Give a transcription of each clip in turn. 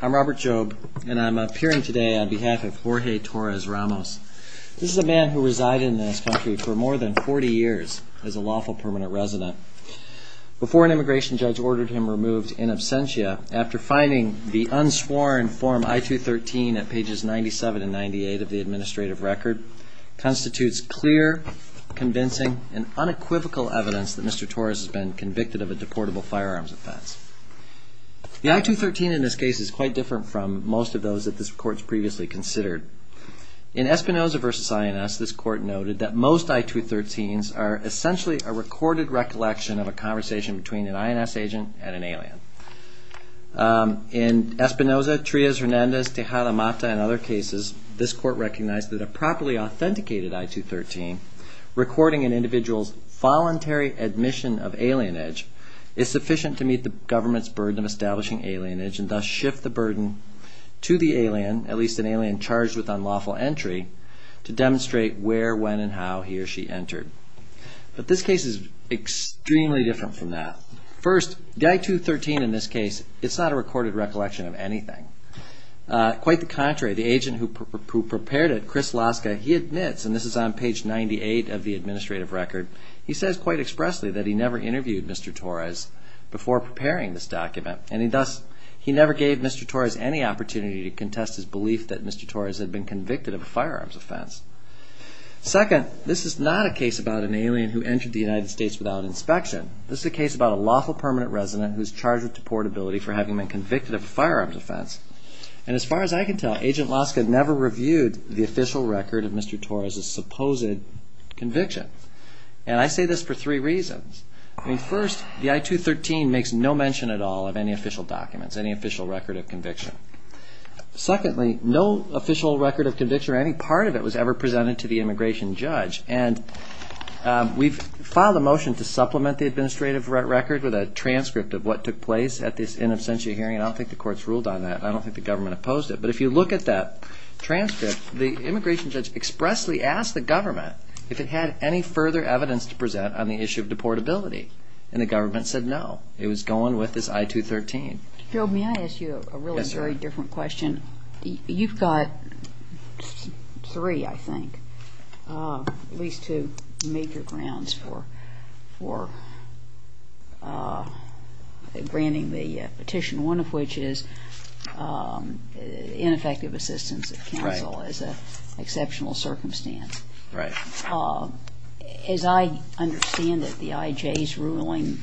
I'm Robert Jobe, and I'm appearing today on behalf of Jorge Torres-Ramos. This is a man who resided in this country for more than 40 years as a lawful permanent resident. Before an immigration judge ordered him removed in absentia, after finding the unsworn Form I-213 at pages 97 and 98 of the administrative record, constitutes clear, convincing, and unequivocal evidence that Mr. Torres has been convicted of a deportable firearms offense. The I-213 in this case is quite different from most of those that this court has previously considered. In Espinoza v. INS, this court noted that most I-213s are essentially a recorded recollection of a conversation between an INS agent and an alien. In Espinoza, Trias, Hernandez, Tejada, Mata, and other cases, this court recognized that a properly authenticated I-213 recording an individual's voluntary admission of alienage is sufficient to meet the government's burden of establishing alienage and thus shift the burden to the alien, at least an alien charged with unlawful entry, to demonstrate where, when, and how he or she entered. But this case is extremely different from that. First, the I-213 in this case, it's not a recorded recollection of anything. Quite the contrary, the agent who prepared it, Chris Laska, he admits, and this is on page 98 of the administrative record, he says quite expressly that he never interviewed Mr. Torres before preparing this document and thus he never gave Mr. Torres any opportunity to contest his belief that Mr. Torres had been convicted of a firearms offense. Second, this is not a case about an alien who entered the United States without inspection. This is a case about a lawful permanent resident who is charged with deportability for having been convicted of a firearms offense. And as far as I can tell, Agent Laska never reviewed the official record of Mr. Torres' supposed conviction. And I say this for three reasons. First, the I-213 makes no mention at all of any official documents, any official record of conviction. Secondly, no official record of conviction or any part of it was ever presented to the immigration judge. And we've filed a motion to supplement the administrative record with a transcript of what took place at this in absentia hearing. I don't think the courts ruled on that. I don't think the government opposed it. But if you look at that transcript, the immigration judge expressly asked the government if it had any further evidence to present on the issue of deportability. And the government said no. It was going with this I-213. Gerald, may I ask you a really very different question? You've got three, I think, at least two major grounds for granting the petition, one of which is ineffective assistance of counsel as an exceptional circumstance. Right. As I understand it, the IJ's ruling,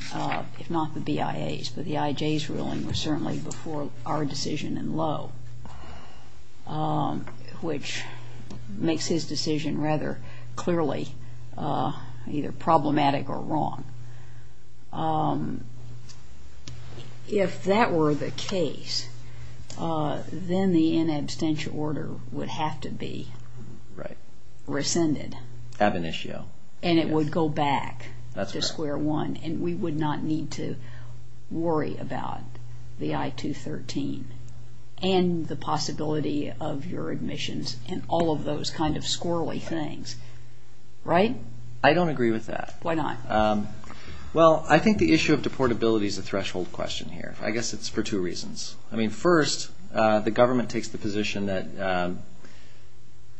if not the BIA's, but the IJ's ruling was certainly before our decision in Lowe, which makes his decision rather clearly either problematic or wrong. If that were the case, then the in absentia order would have to be rescinded. Ab initio. And it would go back to square one, and we would not need to worry about the I-213 and the possibility of your admissions and all of those kind of squirrely things. Right? I don't agree with that. Why not? Well, I think the issue of deportability is a threshold question here. I guess it's for two reasons. I mean, first, the government takes the position that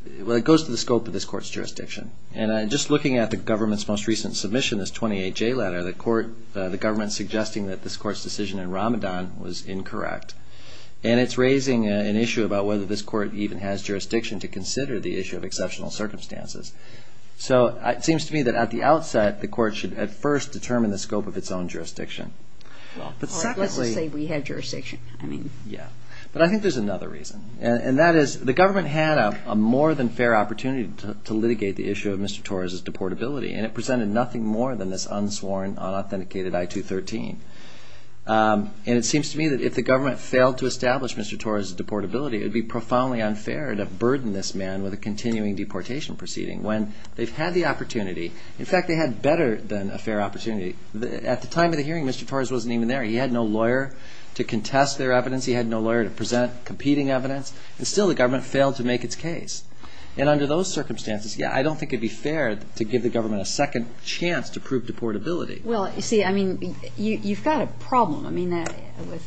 it goes to the scope of this court's jurisdiction. And just looking at the government's most recent submission, this 28J letter, the government's suggesting that this court's decision in Ramadan was incorrect. And it's raising an issue about whether this court even has jurisdiction to consider the issue of exceptional circumstances. So it seems to me that at the outset, the court should at first determine the scope of its own jurisdiction. Well, let's just say we had jurisdiction. Yeah. But I think there's another reason, and that is the government had a more than fair opportunity to litigate the issue of Mr. Torres' deportability, and it presented nothing more than this unsworn, unauthenticated I-213. And it seems to me that if the government failed to establish Mr. Torres' deportability, it would be profoundly unfair to burden this man with a continuing deportation proceeding when they've had the opportunity. In fact, they had better than a fair opportunity. At the time of the hearing, Mr. Torres wasn't even there. He had no lawyer to contest their evidence. He had no lawyer to present competing evidence. And still the government failed to make its case. And under those circumstances, yeah, I don't think it would be fair to give the government a second chance to prove deportability. Well, you see, I mean, you've got a problem. I mean,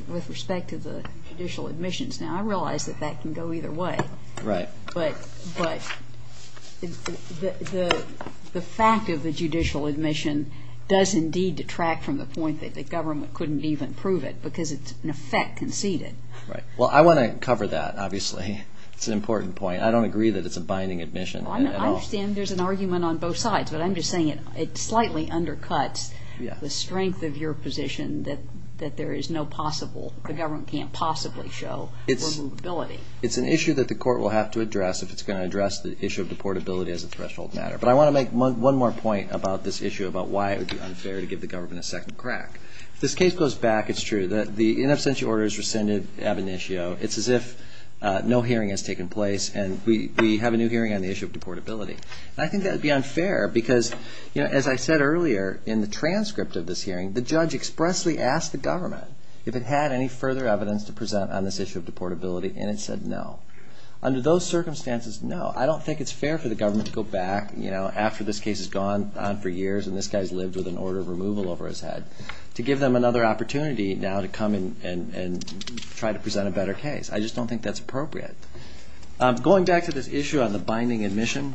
with respect to the judicial admissions now, I realize that that can go either way. Right. But the fact of the judicial admission does indeed detract from the point that the government couldn't even prove it because it's in effect conceded. Right. Well, I want to cover that, obviously. It's an important point. I don't agree that it's a binding admission at all. I understand there's an argument on both sides, but I'm just saying it slightly undercuts the strength of your position that there is no possible, the government can't possibly show removability. It's an issue that the court will have to address if it's going to address the issue of deportability as a threshold matter. But I want to make one more point about this issue, about why it would be unfair to give the government a second crack. If this case goes back, it's true that the in absentia order is rescinded ab initio. It's as if no hearing has taken place and we have a new hearing on the issue of deportability. And I think that would be unfair because, you know, as I said earlier in the transcript of this hearing, the judge expressly asked the government if it had any further evidence to present on this issue of deportability, and it said no. Under those circumstances, no. I don't think it's fair for the government to go back, you know, after this case has gone on for years and this guy's lived with an order of removal over his head, to give them another opportunity now to come and try to present a better case. I just don't think that's appropriate. Going back to this issue on the binding admission,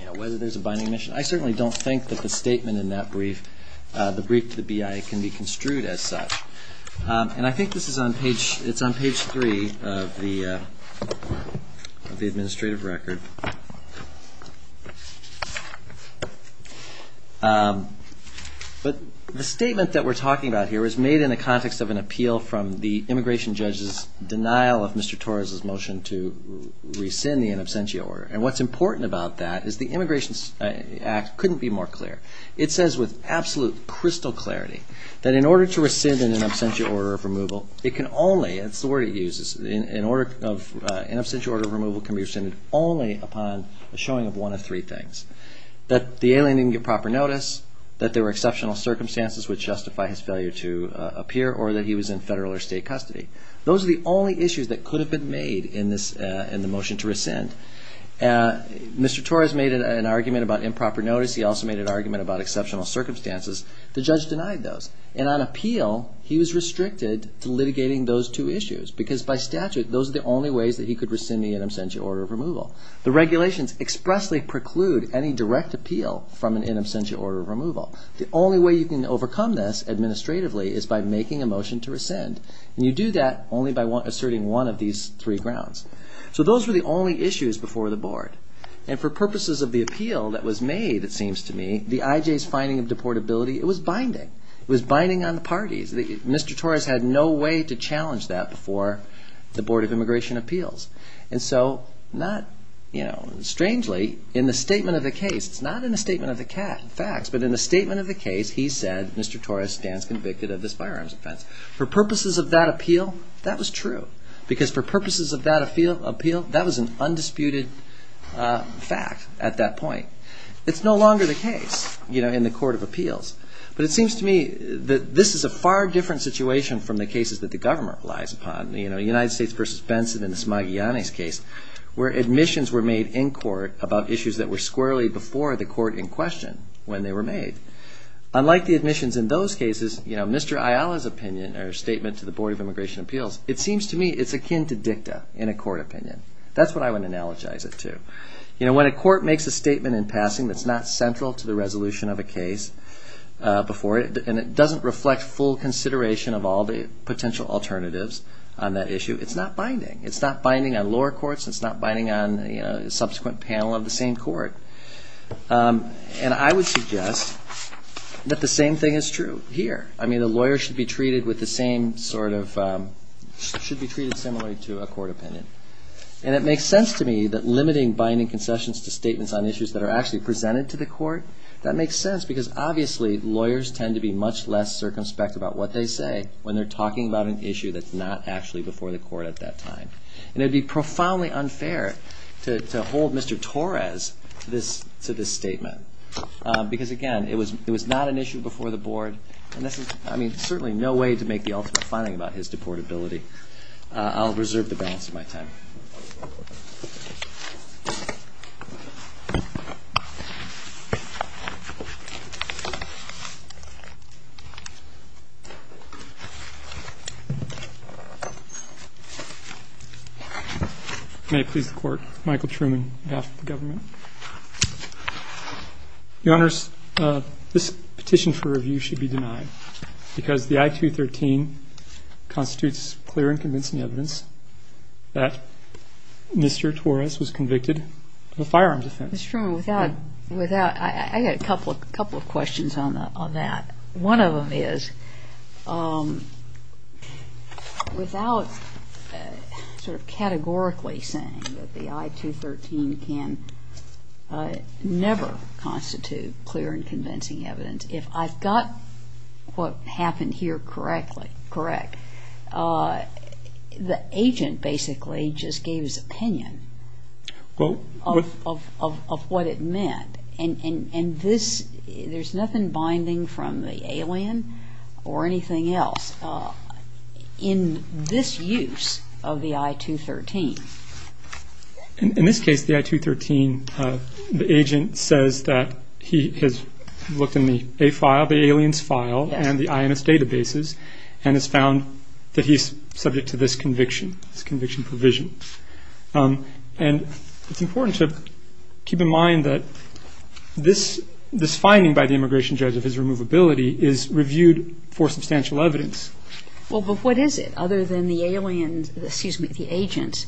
you know, whether there's a binding admission, I certainly don't think that the statement in that brief, the brief to the BIA, can be construed as such. And I think this is on page, it's on page three of the administrative record. But the statement that we're talking about here was made in the context of an appeal from the immigration judge's denial of Mr. Torres' motion to rescind the in absentia order. And what's important about that is the Immigration Act couldn't be more clear. It says with absolute crystal clarity that in order to rescind an in absentia order of removal, it can only, that's the word it uses, an in absentia order of removal can be rescinded only upon the showing of one of three things. That the alien didn't get proper notice, that there were exceptional circumstances which justify his failure to appear, or that he was in federal or state custody. Those are the only issues that could have been made in the motion to rescind. Mr. Torres made an argument about improper notice. He also made an argument about exceptional circumstances. The judge denied those. And on appeal, he was restricted to litigating those two issues because by statute, those are the only ways that he could rescind the in absentia order of removal. The regulations expressly preclude any direct appeal from an in absentia order of removal. The only way you can overcome this administratively is by making a motion to rescind. And you do that only by asserting one of these three grounds. So those were the only issues before the board. And for purposes of the appeal that was made, it seems to me, the IJ's finding of deportability, it was binding. It was binding on the parties. Mr. Torres had no way to challenge that before the Board of Immigration Appeals. And so not, you know, strangely, in the statement of the case, it's not in the statement of the facts, but in the statement of the case, he said, Mr. Torres stands convicted of this firearms offense. For purposes of that appeal, that was true. Because for purposes of that appeal, that was an undisputed fact at that point. It's no longer the case, you know, in the Court of Appeals. But it seems to me that this is a far different situation from the cases that the government relies upon. You know, United States v. Benson in the Smagliani's case where admissions were made in court about issues that were squarely before the court in question when they were made. Unlike the admissions in those cases, you know, Mr. Ayala's opinion or statement to the Board of Immigration Appeals, it seems to me it's akin to dicta in a court opinion. That's what I would analogize it to. You know, when a court makes a statement in passing that's not central to the resolution of a case before it, and it doesn't reflect full consideration of all the potential alternatives on that issue, it's not binding. It's not binding on lower courts. It's not binding on, you know, the subsequent panel of the same court. And I would suggest that the same thing is true here. I mean, a lawyer should be treated with the same sort of, should be treated similarly to a court opinion. And it makes sense to me that limiting binding concessions to statements on issues that are actually presented to the court, that makes sense because obviously lawyers tend to be much less circumspect about what they say when they're talking about an issue that's not actually before the court at that time. And it would be profoundly unfair to hold Mr. Torres to this statement because, again, it was not an issue before the board, and this is, I mean, certainly no way to make the ultimate finding about his deportability. I'll reserve the balance of my time. May it please the Court. Michael Truman, behalf of the government. Your Honors, this petition for review should be denied because the I-213 constitutes clear and convincing evidence that Mr. Torres was convicted of a firearms offense. Ms. Truman, without, without, I got a couple of questions on that. One of them is, without sort of categorically saying that the I-213 can never constitute clear and convincing evidence, if I've got what happened here correctly, correct, the agent basically just gave his opinion of what it meant. And this, there's nothing binding from the alien or anything else in this use of the I-213. In this case, the I-213, the agent says that he has looked in the A file, the alien's file, and the INS databases and has found that he's subject to this conviction, this conviction provision. And it's important to keep in mind that this finding by the immigration judge of his removability is reviewed for substantial evidence. Well, but what is it other than the alien's, excuse me, the agent's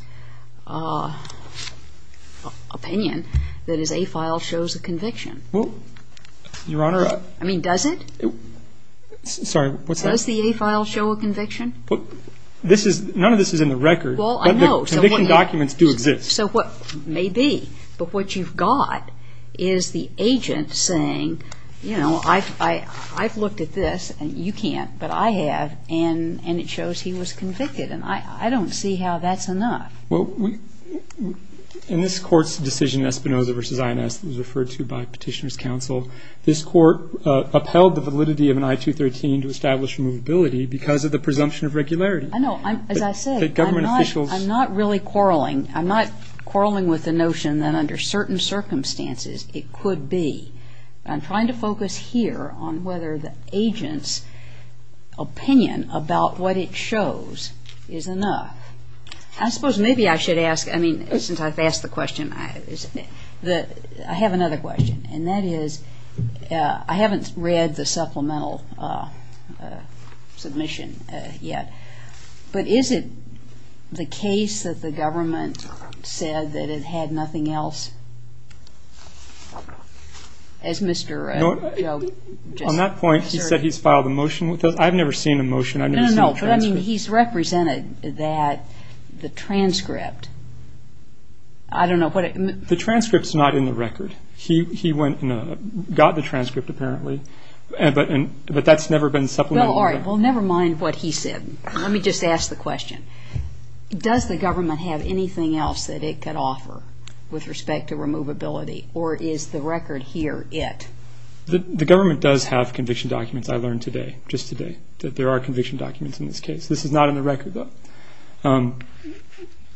opinion that his A file shows a conviction? Well, Your Honor. I mean, does it? Sorry, what's that? Does the A file show a conviction? This is, none of this is in the record. Well, I know. But the conviction documents do exist. So what may be, but what you've got is the agent saying, you know, I've looked at this, and you can't, but I have, and it shows he was convicted. And I don't see how that's enough. Well, in this Court's decision, Espinoza v. INS, it was referred to by Petitioner's Counsel, this Court upheld the validity of an I-213 to establish removability because of the presumption of regularity. I know. As I said, I'm not really quarreling. I'm not quarreling with the notion that under certain circumstances it could be. I'm trying to focus here on whether the agent's opinion about what it shows is enough. I suppose maybe I should ask, I mean, since I've asked the question, I have another question, and that is I haven't read the supplemental submission yet, but is it the case that the government said that it had nothing else as Mr. Joe just asserted? On that point, he said he's filed a motion. I've never seen a motion. I've never seen a transcript. No, no, no, but, I mean, he's represented that the transcript, I don't know what it means. The transcript's not in the record. He went and got the transcript apparently, but that's never been supplemented. Well, all right, well, never mind what he said. Let me just ask the question. Does the government have anything else that it could offer with respect to removability, or is the record here it? The government does have conviction documents, I learned today, just today, that there are conviction documents in this case. This is not in the record, though,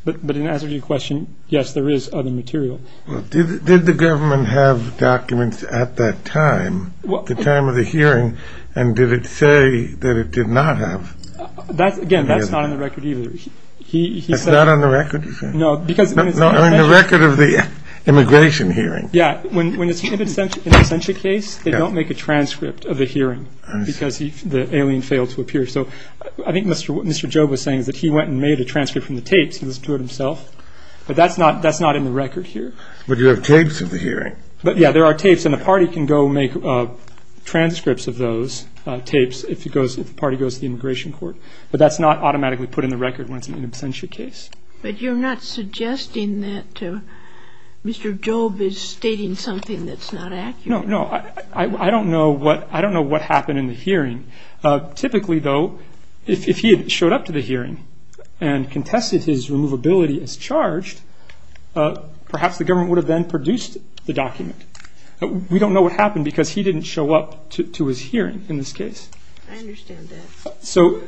but in answer to your question, yes, there is other material. Well, did the government have documents at that time, the time of the hearing, and did it say that it did not have? Again, that's not in the record either. It's not on the record, you say? No, because when it's in the case. No, on the record of the immigration hearing. Yeah, when it's in an absentia case, they don't make a transcript of the hearing because the alien failed to appear. So I think what Mr. Joe was saying is that he went and made a transcript from the tapes, he listened to it himself, but that's not in the record here. But you have tapes of the hearing. Yeah, there are tapes, and the party can go make transcripts of those tapes if the party goes to the immigration court. But that's not automatically put in the record when it's an absentia case. But you're not suggesting that Mr. Job is stating something that's not accurate? No, no. I don't know what happened in the hearing. Typically, though, if he had showed up to the hearing and contested his removability as charged, perhaps the government would have then produced the document. We don't know what happened because he didn't show up to his hearing in this case. I understand that. So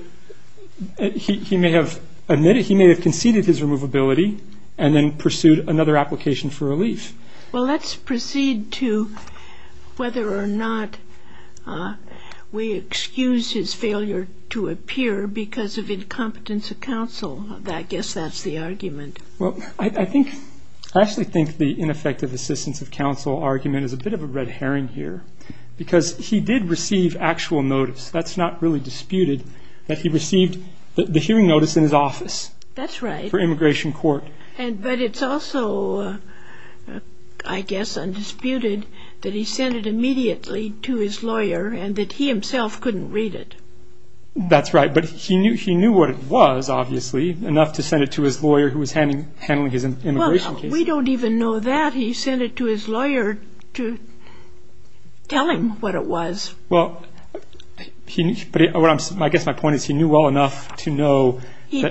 he may have admitted, he may have conceded his removability and then pursued another application for relief. Well, let's proceed to whether or not we excuse his failure to appear because of incompetence of counsel. I guess that's the argument. Well, I actually think the ineffective assistance of counsel argument is a bit of a red herring here because he did receive actual notice, that's not really disputed, that he received the hearing notice in his office for immigration court. But it's also, I guess, undisputed that he sent it immediately to his lawyer and that he himself couldn't read it. That's right, but he knew what it was, obviously, enough to send it to his lawyer who was handling his immigration case. Well, we don't even know that. He sent it to his lawyer to tell him what it was. Well, I guess my point is he knew well enough to know who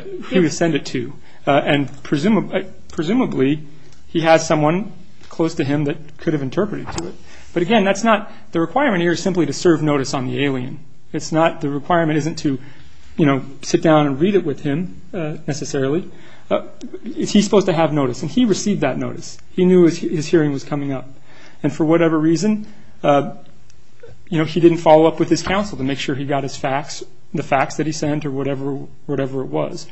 to send it to. And presumably he has someone close to him that could have interpreted to it. But, again, that's not the requirement here is simply to serve notice on the alien. The requirement isn't to sit down and read it with him necessarily. He's supposed to have notice, and he received that notice. He knew his hearing was coming up. And for whatever reason, he didn't follow up with his counsel to make sure he got his facts, the facts that he sent or whatever it was.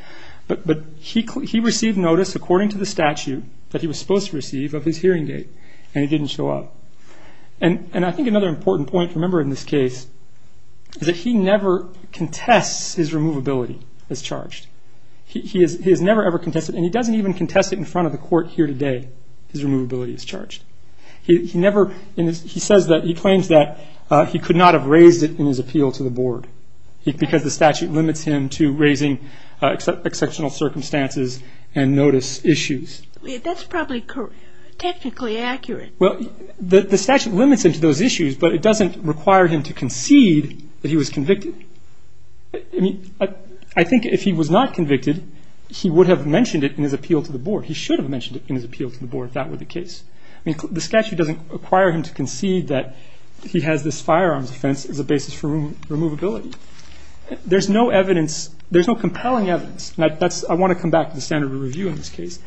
But he received notice, according to the statute, that he was supposed to receive of his hearing aid, and it didn't show up. And I think another important point to remember in this case is that he never contests his removability as charged. He has never, ever contested it, and he doesn't even contest it in front of the court here today, his removability as charged. He claims that he could not have raised it in his appeal to the board because the statute limits him to raising exceptional circumstances and notice issues. That's probably technically accurate. Well, the statute limits him to those issues, but it doesn't require him to concede that he was convicted. I mean, I think if he was not convicted, he would have mentioned it in his appeal to the board. He should have mentioned it in his appeal to the board if that were the case. I mean, the statute doesn't require him to concede that he has this firearms offense as a basis for removability. There's no evidence, there's no compelling evidence, and I want to come back to the standard of review in this case.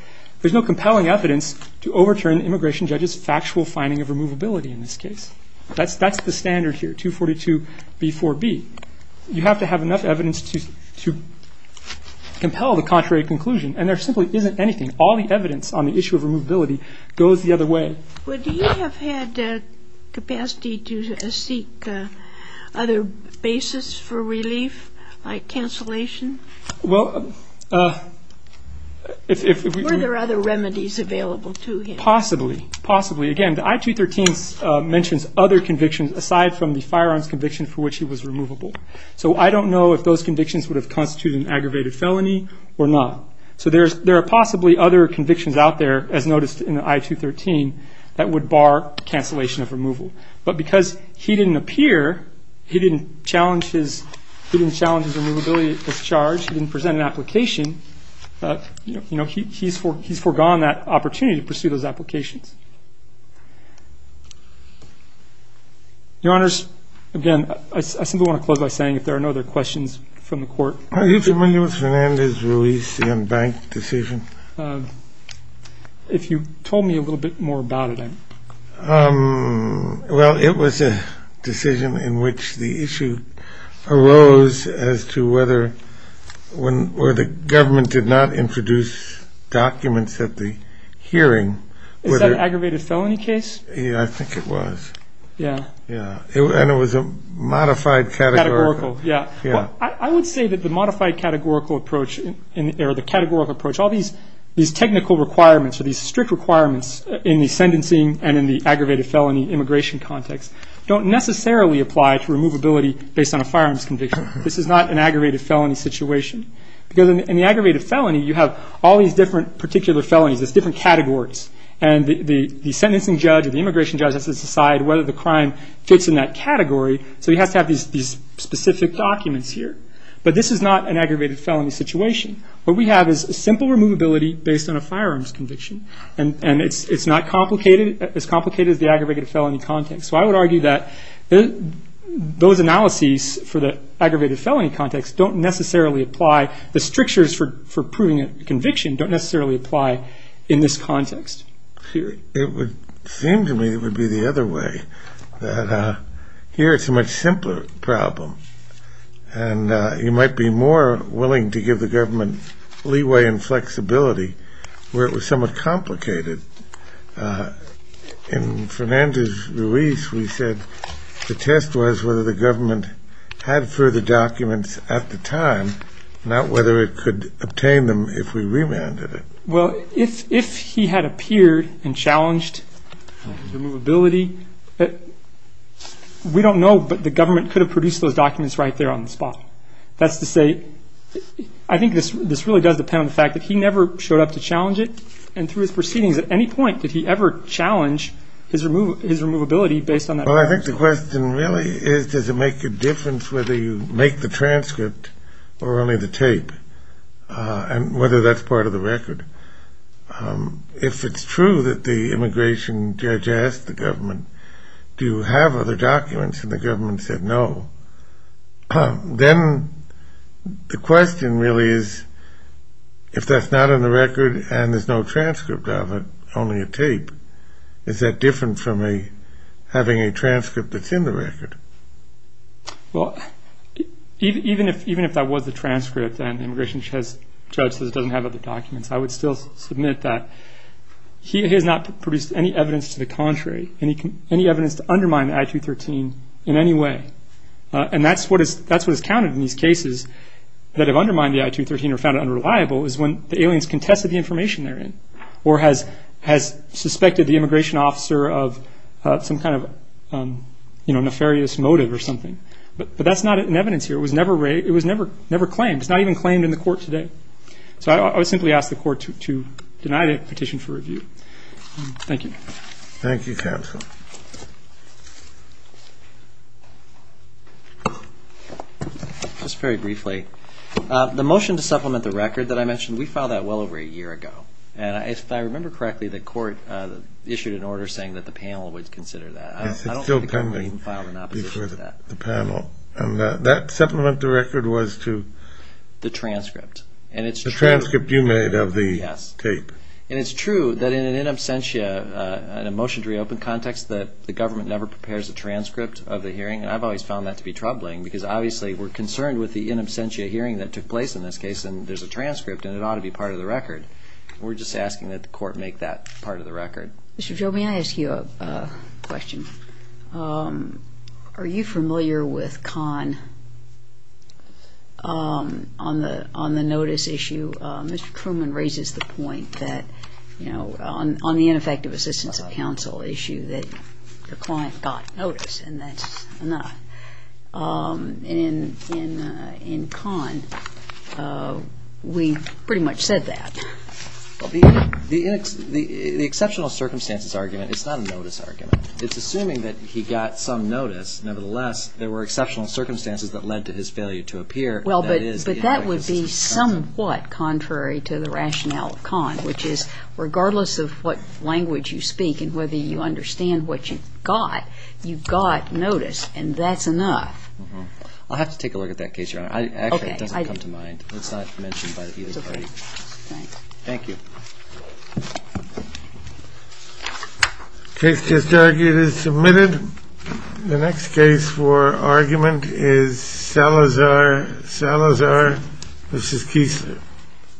There's no compelling evidence to overturn the immigration judge's factual finding of removability in this case. That's the standard here, 242b4b. You have to have enough evidence to compel the contrary conclusion, and there simply isn't anything. All the evidence on the issue of removability goes the other way. Would he have had capacity to seek other basis for relief, like cancellation? Well, if we... Were there other remedies available to him? Possibly, possibly. Again, the I-213 mentions other convictions aside from the firearms conviction for which he was removable. So I don't know if those convictions would have constituted an aggravated felony or not. So there are possibly other convictions out there, as noticed in the I-213, that would bar cancellation of removal. But because he didn't appear, he didn't challenge his removability as charged, he didn't present an application, you know, he's foregone that opportunity to pursue those applications. Your Honors, again, I simply want to close by saying if there are no other questions from the Court... If you told me a little bit more about it... Well, it was a decision in which the issue arose as to whether the government did not introduce documents at the hearing... Is that an aggravated felony case? Yeah, I think it was. Yeah. Yeah, and it was a modified categorical... Categorical, yeah. Well, I would say that the modified categorical approach or the categorical approach, all these technical requirements or these strict requirements in the sentencing and in the aggravated felony immigration context don't necessarily apply to removability based on a firearms conviction. This is not an aggravated felony situation. Because in the aggravated felony, you have all these different particular felonies. There's different categories. And the sentencing judge or the immigration judge has to decide whether the crime fits in that category. So he has to have these specific documents here. But this is not an aggravated felony situation. What we have is simple removability based on a firearms conviction. And it's not as complicated as the aggravated felony context. So I would argue that those analyses for the aggravated felony context don't necessarily apply. The strictures for proving a conviction don't necessarily apply in this context. It would seem to me it would be the other way, that here it's a much simpler problem. And you might be more willing to give the government leeway and flexibility where it was somewhat complicated. In Fernandez-Ruiz, we said the test was whether the government had further documents at the time, not whether it could obtain them if we remanded it. Well, if he had appeared and challenged removability, we don't know, but the government could have produced those documents right there on the spot. That's to say I think this really does depend on the fact that he never showed up to challenge it. And through his proceedings, at any point did he ever challenge his removability based on that. Well, I think the question really is does it make a difference whether you make the transcript or only the tape and whether that's part of the record. If it's true that the immigration judge asked the government, do you have other documents and the government said no, then the question really is if that's not in the record and there's no transcript of it, only a tape, is that different from having a transcript that's in the record? Well, even if that was the transcript and the immigration judge says it doesn't have other documents, I would still submit that he has not produced any evidence to the contrary, any evidence to undermine the I-213 in any way. And that's what is counted in these cases that have undermined the I-213 or found it unreliable is when the aliens contested the information they're in or has suspected the immigration officer of some kind of nefarious motive or something. But that's not in evidence here. It was never claimed. It's not even claimed in the court today. So I would simply ask the court to deny the petition for review. Thank you. Thank you, counsel. Just very briefly, the motion to supplement the record that I mentioned, we filed that well over a year ago. And if I remember correctly, the court issued an order saying that the panel would consider that. Yes, it's still pending. I don't think the government even filed an opposition to that. The panel. And that supplement to the record was to? The transcript. And it's true. The transcript you made of the tape. Yes. And it's true that in an in absentia, in a motion to reopen context, that the government never prepares a transcript of the hearing. And I've always found that to be troubling because, obviously, we're concerned with the in absentia hearing that took place in this case, and there's a transcript, and it ought to be part of the record. We're just asking that the court make that part of the record. Mr. Joby, may I ask you a question? Are you familiar with Kahn on the notice issue? Mr. Truman raises the point that, you know, on the ineffective assistance of counsel issue that the client got notice, and that's enough. In Kahn, we pretty much said that. The exceptional circumstances argument is not a notice argument. It's assuming that he got some notice. Nevertheless, there were exceptional circumstances that led to his failure to appear. Well, but that would be somewhat contrary to the rationale of Kahn, which is regardless of what language you speak and whether you understand what you got, you got notice, and that's enough. I'll have to take a look at that case, Your Honor. Actually, it doesn't come to mind. It's not mentioned by either party. Thank you. Case just argued is submitted. The next case for argument is Salazar, Salazar v. Kiesler.